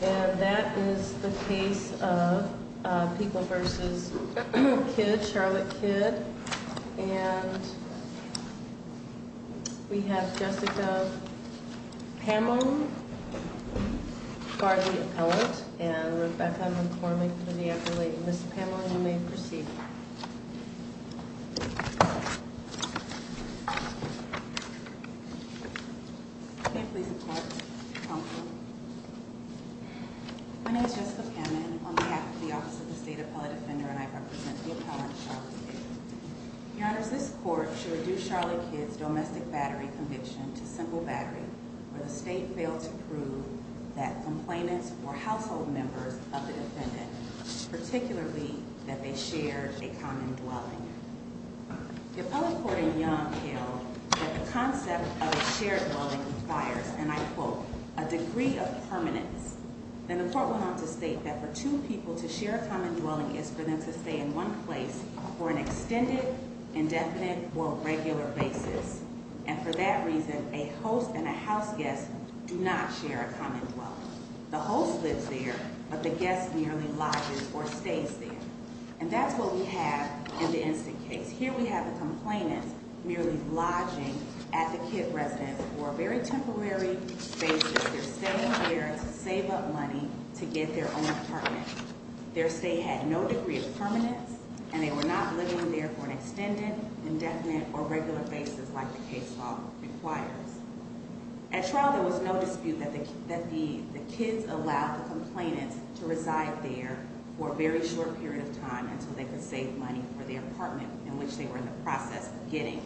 And that is the case of People v. Kidd, Charlotte Kidd. And we have Jessica Pamone, Barney Appellant, and Rebecca McCormick for the appellate. Ms. Pamone, you may proceed. My name is Jessica Pamone. On behalf of the Office of the State Appellate Defender and I represent the appellant, Charlotte Kidd. Your Honor, this court should reduce Charlotte Kidd's domestic battery conviction to simple battery where the state failed to prove that complainants were household members of the defendant, particularly that they shared a common dwelling. The appellate court in Young held that the concept of a shared dwelling requires, and I quote, a degree of permanence. And the court went on to state that for two people to share a common dwelling is for them to stay in one place for an extended, indefinite, or regular basis. And for that reason, a host and a house guest do not share a common dwelling. The host lives there, but the guest merely lodges or stays there. And that's what we have in the instant case. Here we have the complainants merely lodging at the Kidd residence for a very temporary basis. They're staying there to save up money to get their own apartment. Their stay had no degree of permanence, and they were not living there for an extended, indefinite, or regular basis like the case law requires. At trial, there was no dispute that the kids allowed the complainants to reside there for a very short period of time until they could save money for the apartment in which they were in the process of getting.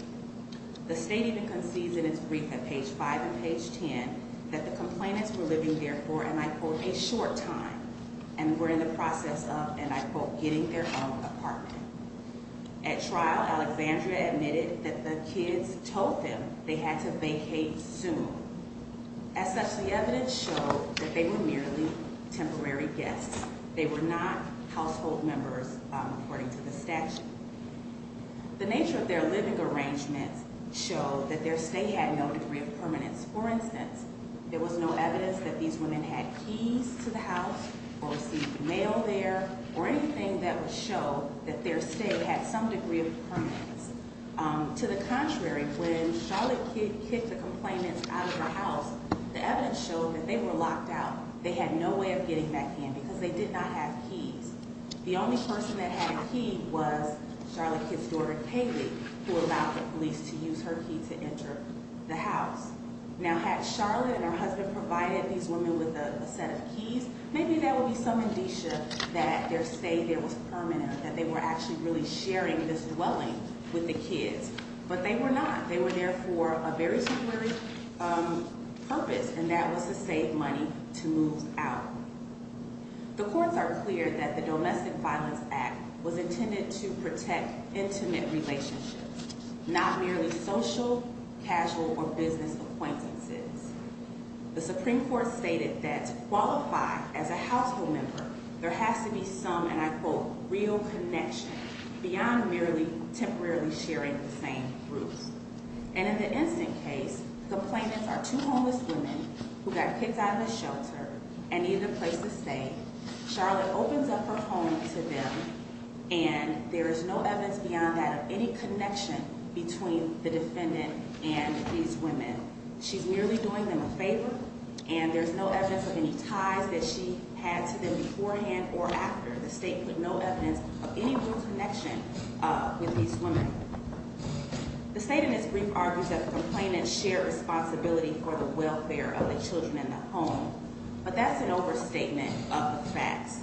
The state even concedes in its brief at page 5 and page 10 that the complainants were living there for, and I quote, a short time and were in the process of, and I quote, getting their own apartment. At trial, Alexandria admitted that the kids told them they had to vacate soon. As such, the evidence showed that they were merely temporary guests. They were not household members according to the statute. The nature of their living arrangements showed that their stay had no degree of permanence. For instance, there was no evidence that these women had keys to the house or received mail there or anything that would show that their stay had some degree of permanence. To the contrary, when Charlotte Kidd kicked the complainants out of her house, the evidence showed that they were locked out. They had no way of getting back in because they did not have keys. The only person that had a key was Charlotte Kidd's daughter, Kaylee, who allowed the police to use her key to enter the house. Now, had Charlotte and her husband provided these women with a set of keys, maybe there would be some indicia that their stay there was permanent, that they were actually really sharing this dwelling with the kids. But they were not. They were there for a very singular purpose, and that was to save money to move out. The courts are clear that the Domestic Violence Act was intended to protect intimate relationships, not merely social, casual, or business acquaintances. The Supreme Court stated that to qualify as a household member, there has to be some, and I quote, real connection beyond merely temporarily sharing the same rooms. And in the instant case, the complainants are two homeless women who got kicked out of the shelter and needed a place to stay. Charlotte opens up her home to them, and there is no evidence beyond that of any connection between the defendant and these women. She's merely doing them a favor, and there's no evidence of any ties that she had to them beforehand or after. The state put no evidence of any real connection with these women. The state in its brief argues that the complainants share responsibility for the welfare of the children in the home, but that's an overstatement of the facts.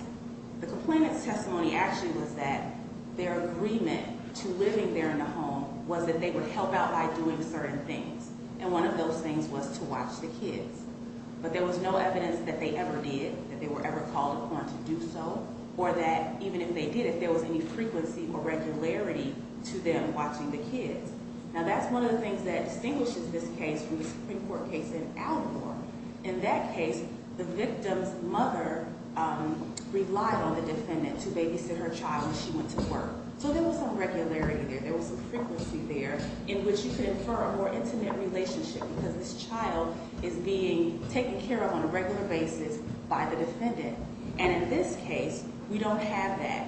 The complainant's testimony actually was that their agreement to living there in the home was that they would help out by doing certain things, and one of those things was to watch the kids. But there was no evidence that they ever did, that they were ever called upon to do so, or that even if they did, if there was any frequency or regularity to them watching the kids. Now that's one of the things that distinguishes this case from the Supreme Court case in Alamore. In that case, the victim's mother relied on the defendant to babysit her child when she went to work. So there was some regularity there. There was some frequency there in which you could infer a more intimate relationship because this child is being taken care of on a regular basis by the defendant. And in this case, we don't have that.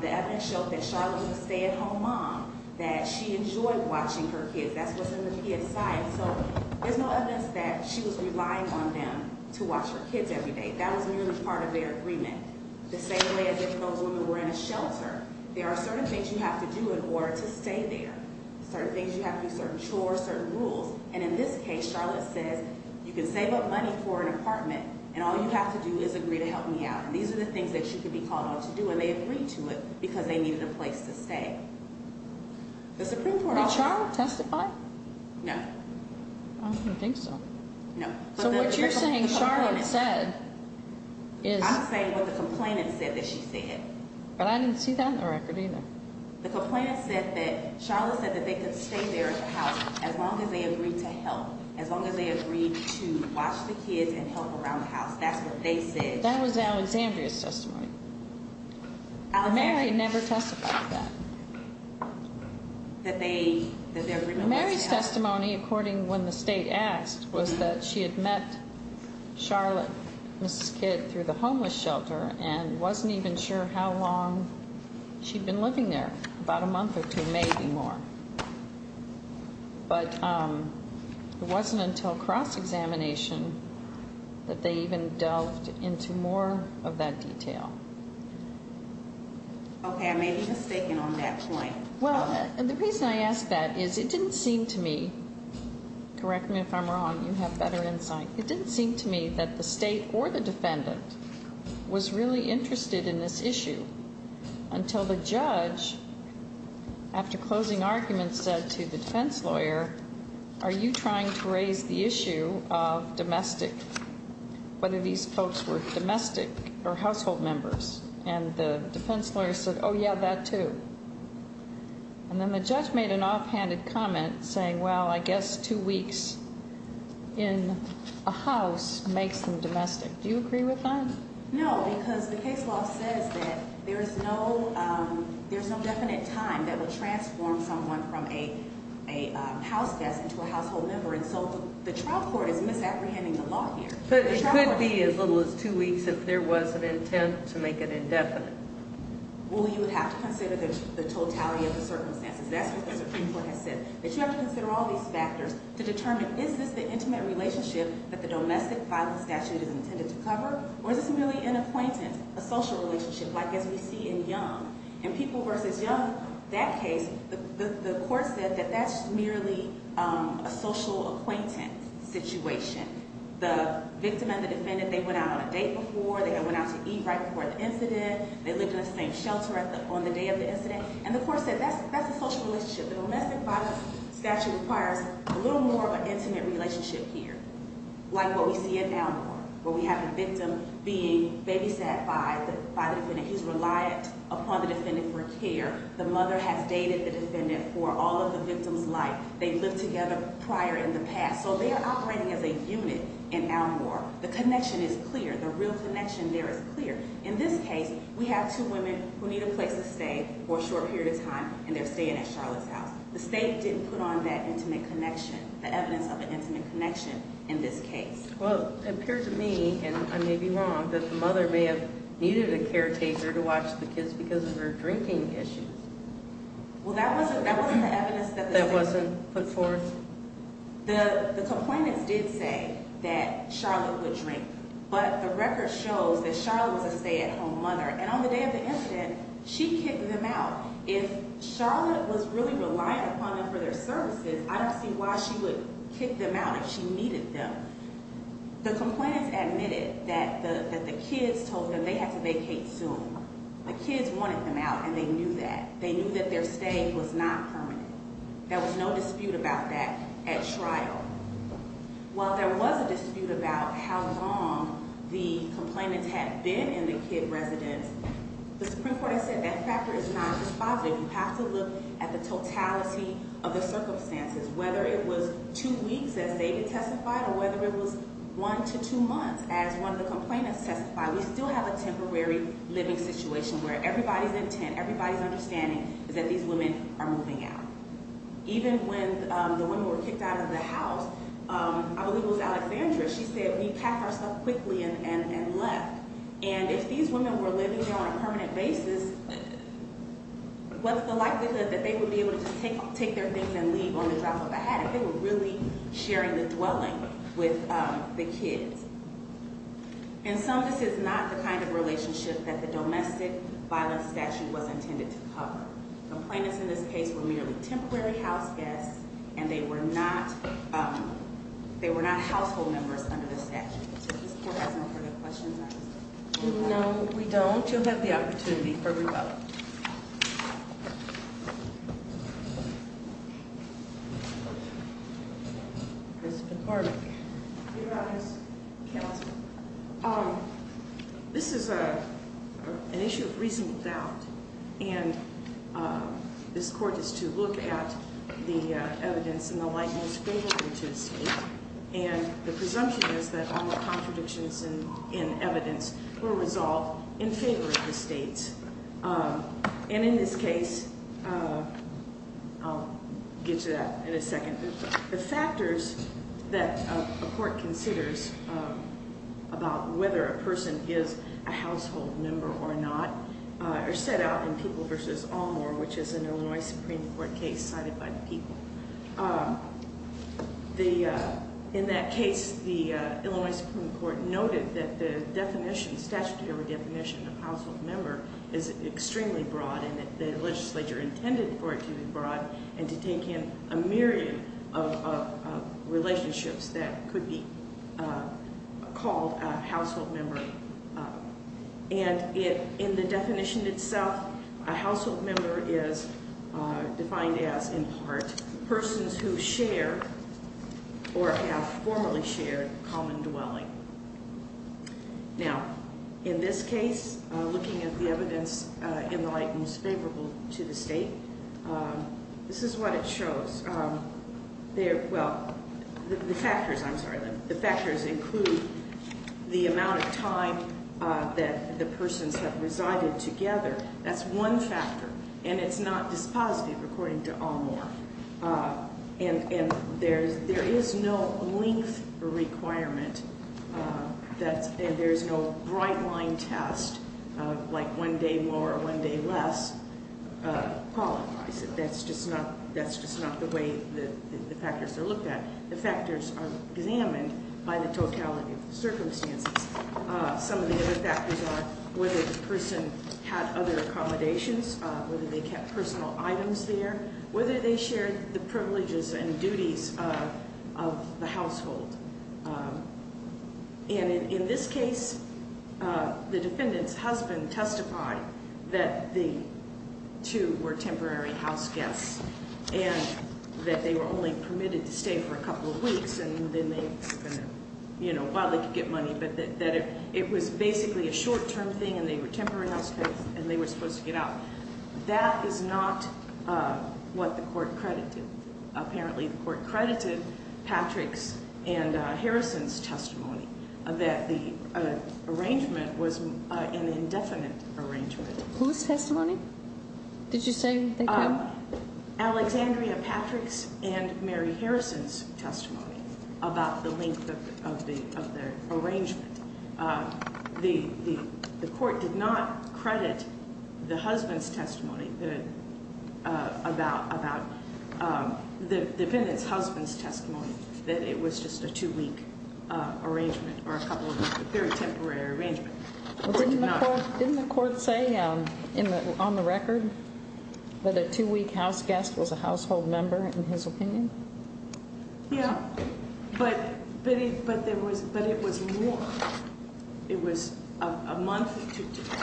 The evidence showed that Charlotte was a stay-at-home mom, that she enjoyed watching her kids. That's what's in the PSI. So there's no evidence that she was relying on them to watch her kids every day. That was merely part of their agreement. The same way as if those women were in a shelter, there are certain things you have to do in order to stay there, certain things you have to do, certain chores, certain rules. And in this case, Charlotte says, you can save up money for an apartment, and all you have to do is agree to help me out. And these are the things that she could be called on to do, and they agreed to it because they needed a place to stay. Did Charlotte testify? No. I don't think so. No. So what you're saying Charlotte said is... I'm saying what the complainant said that she said. But I didn't see that in the record either. The complainant said that Charlotte said that they could stay there at the house as long as they agreed to help, as long as they agreed to watch the kids and help around the house. That's what they said. That was Alexandria's testimony. Mary never testified to that. Mary's testimony, according to when the state asked, was that she had met Charlotte, Mrs. Kidd, through the homeless shelter and wasn't even sure how long she'd been living there, about a month or two, maybe more. But it wasn't until cross-examination that they even delved into more of that detail. Okay, I may be mistaken on that point. Well, the reason I ask that is it didn't seem to me, correct me if I'm wrong, you have better insight. It didn't seem to me that the state or the defendant was really interested in this issue until the judge, after closing arguments, said to the defense lawyer, are you trying to raise the issue of domestic, whether these folks were domestic or household members? And the defense lawyer said, oh, yeah, that too. And then the judge made an offhanded comment saying, well, I guess two weeks in a house makes them domestic. Do you agree with that? No, because the case law says that there's no definite time that will transform someone from a house guest into a household member. And so the trial court is misapprehending the law here. But it could be as little as two weeks if there was an intent to make it indefinite. Well, you would have to consider the totality of the circumstances. That's what the Supreme Court has said, that you have to consider all these factors to determine, is this the intimate relationship that the domestic violence statute is intended to cover? Or is this merely an acquaintance, a social relationship, like as we see in Young? In People v. Young, that case, the court said that that's merely a social acquaintance situation. The victim and the defendant, they went out on a date before. They went out to eat right before the incident. They lived in the same shelter on the day of the incident. And the court said that's a social relationship. The domestic violence statute requires a little more of an intimate relationship here, like what we see in Almore, where we have the victim being babysat by the defendant. He's reliant upon the defendant for care. The mother has dated the defendant for all of the victim's life. They've lived together prior in the past. So they are operating as a unit in Almore. The connection is clear. The real connection there is clear. In this case, we have two women who need a place to stay for a short period of time, and they're staying at Charlotte's house. The state didn't put on that intimate connection, the evidence of an intimate connection in this case. Well, it appeared to me, and I may be wrong, that the mother may have needed a caretaker to watch the kids because of her drinking issues. Well, that wasn't the evidence that the state put forth. The complainants did say that Charlotte would drink. But the record shows that Charlotte was a stay-at-home mother, and on the day of the incident, she kicked them out. If Charlotte was really reliant upon them for their services, I don't see why she would kick them out if she needed them. The complainants admitted that the kids told them they had to vacate soon. The kids wanted them out, and they knew that. They knew that their stay was not permanent. There was no dispute about that at trial. While there was a dispute about how long the complainants had been in the kid residence, the Supreme Court has said that factor is not dispositive. You have to look at the totality of the circumstances, whether it was two weeks, as David testified, or whether it was one to two months, as one of the complainants testified. We still have a temporary living situation where everybody's intent, everybody's understanding is that these women are moving out. Even when the women were kicked out of the house, I believe it was Alexandra, she said, we packed our stuff quickly and left. And if these women were living there on a permanent basis, what's the likelihood that they would be able to just take their things and leave on the drop of a hat? If they were really sharing the dwelling with the kids. In sum, this is not the kind of relationship that the domestic violence statute was intended to cover. The complainants in this case were merely temporary house guests, and they were not household members under the statute. Does this court have any further questions on this? No, we don't. You'll have the opportunity for a rebuttal. Ms. McCormick. Your Honor, this is an issue of reasonable doubt. And this court is to look at the evidence in the light most favorable to the state. And the presumption is that all the contradictions in evidence were resolved in favor of the states. And in this case, I'll get to that in a second. The factors that a court considers about whether a person is a household member or not are set out in People v. Allmore, which is an Illinois Supreme Court case cited by the people. In that case, the Illinois Supreme Court noted that the definition, statutory definition of household member is extremely broad, and that the legislature intended for it to be broad and to take in a myriad of relationships that could be called a household member. And in the definition itself, a household member is defined as, in part, persons who share or have formerly shared common dwelling. Now, in this case, looking at the evidence in the light most favorable to the state, this is what it shows. Well, the factors, I'm sorry, the factors include the amount of time that the persons have resided together. That's one factor. And it's not dispositive, according to Allmore. And there is no length requirement, and there's no bright-line test, like one day more or one day less qualifies it. That's just not the way the factors are looked at. The factors are examined by the totality of the circumstances. Some of the other factors are whether the person had other accommodations, whether they kept personal items there, whether they shared the privileges and duties of the household. And in this case, the defendant's husband testified that the two were temporary houseguests and that they were only permitted to stay for a couple of weeks, and then they, you know, while they could get money, but that it was basically a short-term thing and they were temporary houseguests and they were supposed to get out. That is not what the court credited. Apparently, the court credited Patrick's and Harrison's testimony that the arrangement was an indefinite arrangement. Whose testimony? Did you say they could? Alexandria Patrick's and Mary Harrison's testimony about the length of their arrangement. The court did not credit the husband's testimony about the defendant's husband's testimony that it was just a two-week arrangement or a couple of weeks, a very temporary arrangement. Didn't the court say on the record that a two-week houseguest was a household member in his opinion? Yeah, but it was more. It was a month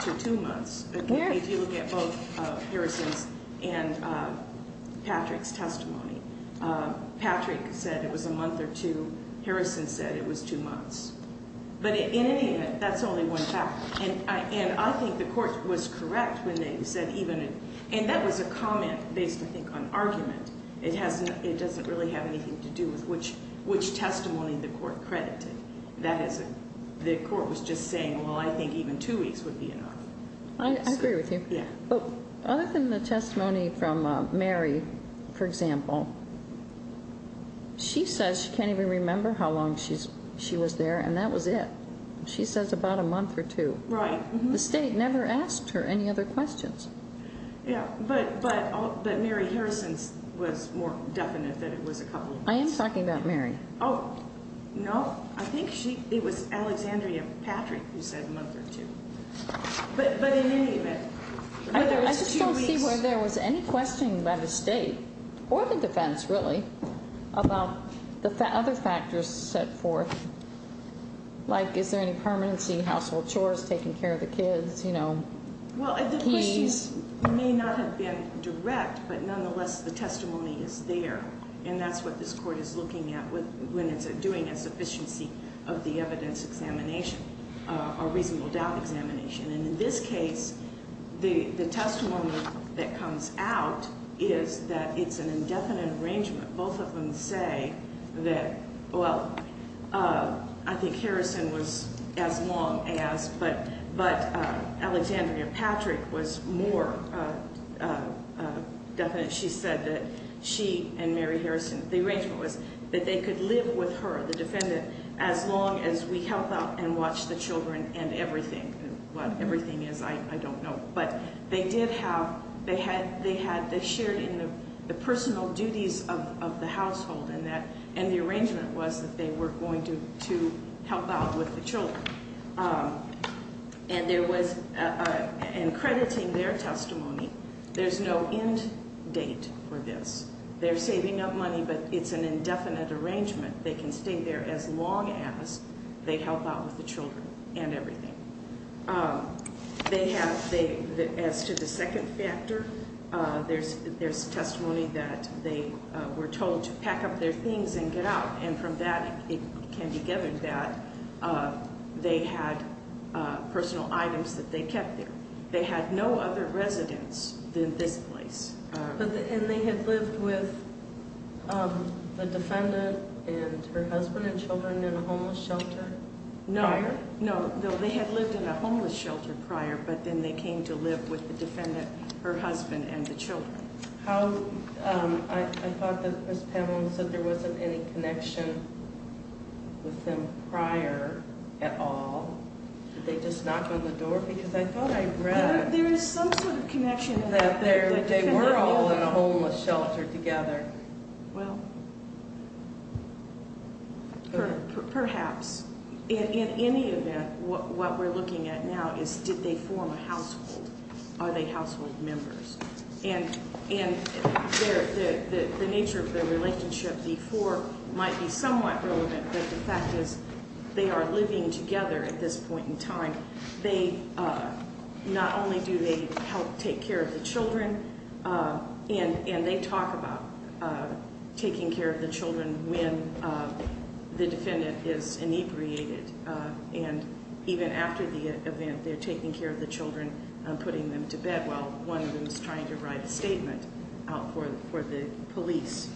to two months. If you look at both Harrison's and Patrick's testimony, Patrick said it was a month or two. Harrison said it was two months. But in any event, that's only one fact. And I think the court was correct when they said even – and that was a comment based, I think, on argument. It doesn't really have anything to do with which testimony the court credited. That is, the court was just saying, well, I think even two weeks would be enough. I agree with you. Yeah. Other than the testimony from Mary, for example, she says she can't even remember how long she was there, and that was it. She says about a month or two. Right. The state never asked her any other questions. Yeah, but Mary Harrison's was more definite that it was a couple of weeks. I am talking about Mary. Oh, no. I think it was Alexandria Patrick who said a month or two. But in any event, whether it was two weeks – I just don't see where there was any questioning by the state, or the defense really, about the other factors set forth, like is there any permanency, household chores, taking care of the kids, you know, keys. Well, the questions may not have been direct, but nonetheless, the testimony is there. And that's what this court is looking at when it's doing a sufficiency of the evidence examination, a reasonable doubt examination. And in this case, the testimony that comes out is that it's an indefinite arrangement. Both of them say that, well, I think Harrison was as long as, but Alexandria Patrick was more definite. She said that she and Mary Harrison, the arrangement was that they could live with her, the defendant, as long as we help out and watch the children and everything. What everything is, I don't know. But they did have – they shared in the personal duties of the household, and the arrangement was that they were going to help out with the children. And there was – and crediting their testimony, there's no end date for this. They're saving up money, but it's an indefinite arrangement. They can stay there as long as they help out with the children and everything. They have – as to the second factor, there's testimony that they were told to pack up their things and get out. And from that, it can be given that they had personal items that they kept there. They had no other residence than this place. And they had lived with the defendant and her husband and children in a homeless shelter prior? No, no. They had lived in a homeless shelter prior, but then they came to live with the defendant, her husband, and the children. How – I thought that Ms. Pamela said there wasn't any connection with them prior at all. Did they just knock on the door? Because I thought I read – There is some sort of connection. That they were all in a homeless shelter together. Well, perhaps. In any event, what we're looking at now is did they form a household? Are they household members? And the nature of their relationship before might be somewhat relevant, but the fact is they are living together at this point in time. They – not only do they help take care of the children, and they talk about taking care of the children when the defendant is inebriated. And even after the event, they're taking care of the children and putting them to bed while one of them is trying to write a statement out for the police.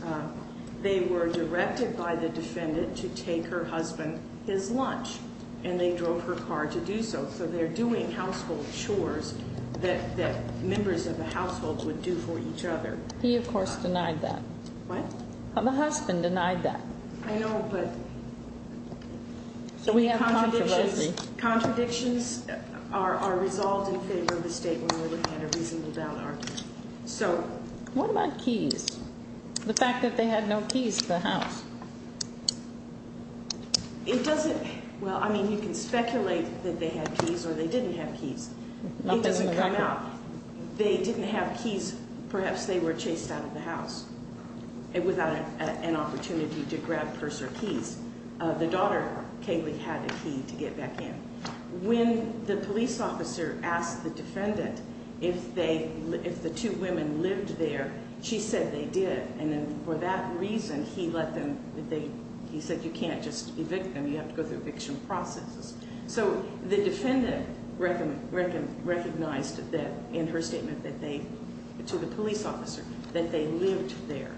They were directed by the defendant to take her husband his lunch, and they drove her car to do so. So they're doing household chores that members of the household would do for each other. He, of course, denied that. What? The husband denied that. I know, but – So we have controversy. Contradictions are resolved in favor of the state when we're looking at a reasonable doubt argument. So what about keys, the fact that they had no keys to the house? It doesn't – well, I mean, you can speculate that they had keys or they didn't have keys. It doesn't come out. They didn't have keys. Perhaps they were chased out of the house without an opportunity to grab purse or keys. The daughter, Kaylee, had a key to get back in. When the police officer asked the defendant if they – if the two women lived there, she said they did. And then for that reason, he let them – he said you can't just evict them. You have to go through eviction processes. So the defendant recognized that in her statement that they – to the police officer that they lived there.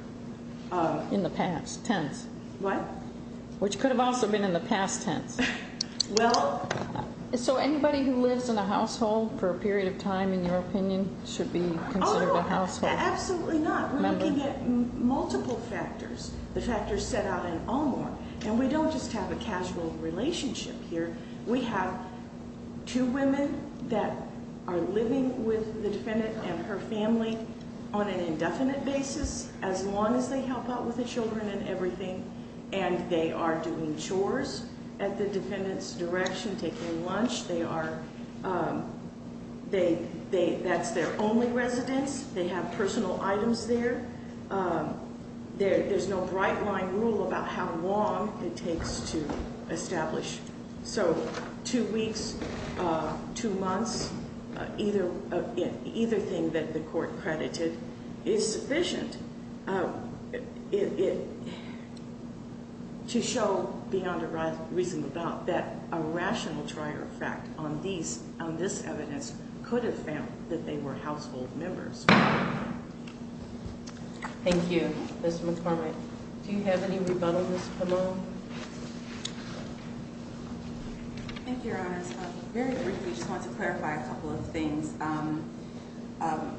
In the past tense. What? Which could have also been in the past tense. Well, so anybody who lives in a household for a period of time, in your opinion, should be considered a household? Oh, no, absolutely not. Remember? We're looking at multiple factors. The factors set out in Elmore. And we don't just have a casual relationship here. We have two women that are living with the defendant and her family on an indefinite basis as long as they help out with the children and everything. And they are doing chores at the defendant's direction, taking lunch. They are – that's their only residence. They have personal items there. There's no bright-line rule about how long it takes to establish. So two weeks, two months, either thing that the court credited is sufficient. And it – to show beyond a reasonable doubt that a rational trier of fact on these – on this evidence could have found that they were household members. Thank you. Ms. McCormick, do you have any rebuttals to come on? Thank you, Your Honors. Very briefly, I just wanted to clarify a couple of things.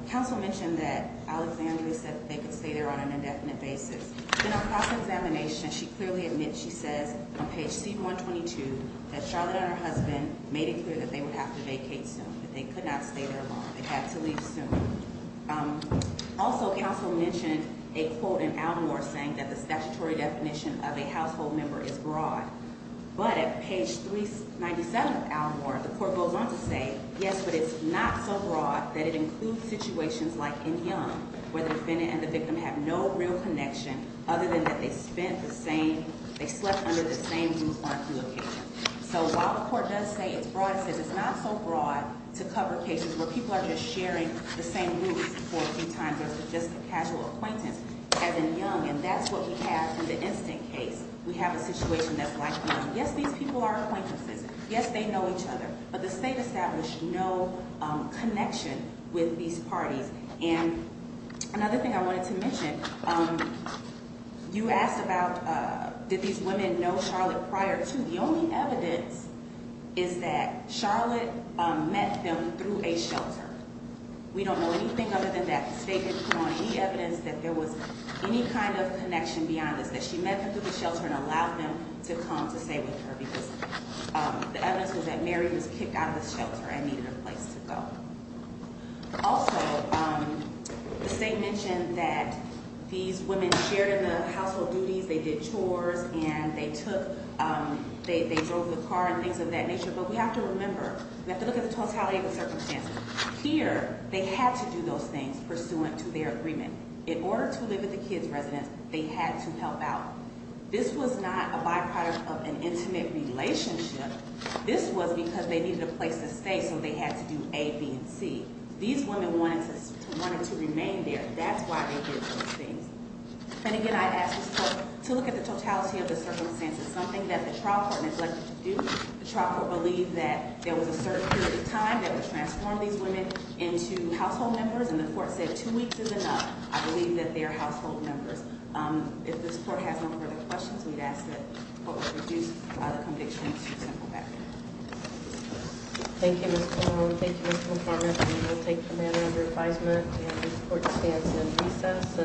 Counsel mentioned that Alexandria said that they could stay there on an indefinite basis. Then on cross-examination, she clearly admits, she says on page C-122, that Charlotte and her husband made it clear that they would have to vacate soon, that they could not stay there long. They had to leave soon. Also, counsel mentioned a quote in Elmore saying that the statutory definition of a household member is broad. But at page 397 of Elmore, the court goes on to say, yes, but it's not so broad that it includes situations like in Young, where the defendant and the victim have no real connection, other than that they spent the same – they slept under the same roof on two occasions. So while the court does say it's broad, it says it's not so broad to cover cases where people are just sharing the same roof for a few times or just a casual acquaintance as in Young. And that's what we have in the instant case. We have a situation that's like Young. Yes, these people are acquaintances. Yes, they know each other. But the state established no connection with these parties. And another thing I wanted to mention, you asked about did these women know Charlotte prior to. The only evidence is that Charlotte met them through a shelter. We don't know anything other than that. The state didn't put on any evidence that there was any kind of connection beyond this, that she met them through the shelter and allowed them to come to stay with her because the evidence was that Mary was kicked out of the shelter and needed a place to go. Also, the state mentioned that these women shared in the household duties. They did chores, and they drove the car and things of that nature. But we have to remember, we have to look at the totality of the circumstances. Here, they had to do those things pursuant to their agreement. In order to live at the kids' residence, they had to help out. This was not a byproduct of an intimate relationship. This was because they needed a place to stay, so they had to do A, B, and C. These women wanted to remain there. That's why they did those things. And, again, I asked this court to look at the totality of the circumstances, something that the trial court neglected to do. The trial court believed that there was a certain period of time that would transform these women into household members, and the court said two weeks is enough. I believe that they are household members. If this court has no further questions, we'd ask that the court reduce the conviction to a simple factor. Thank you, Ms. Conron. Thank you, Mr. McCormick. We will take comment under advisement, and this court stands in recess until tomorrow. All rise.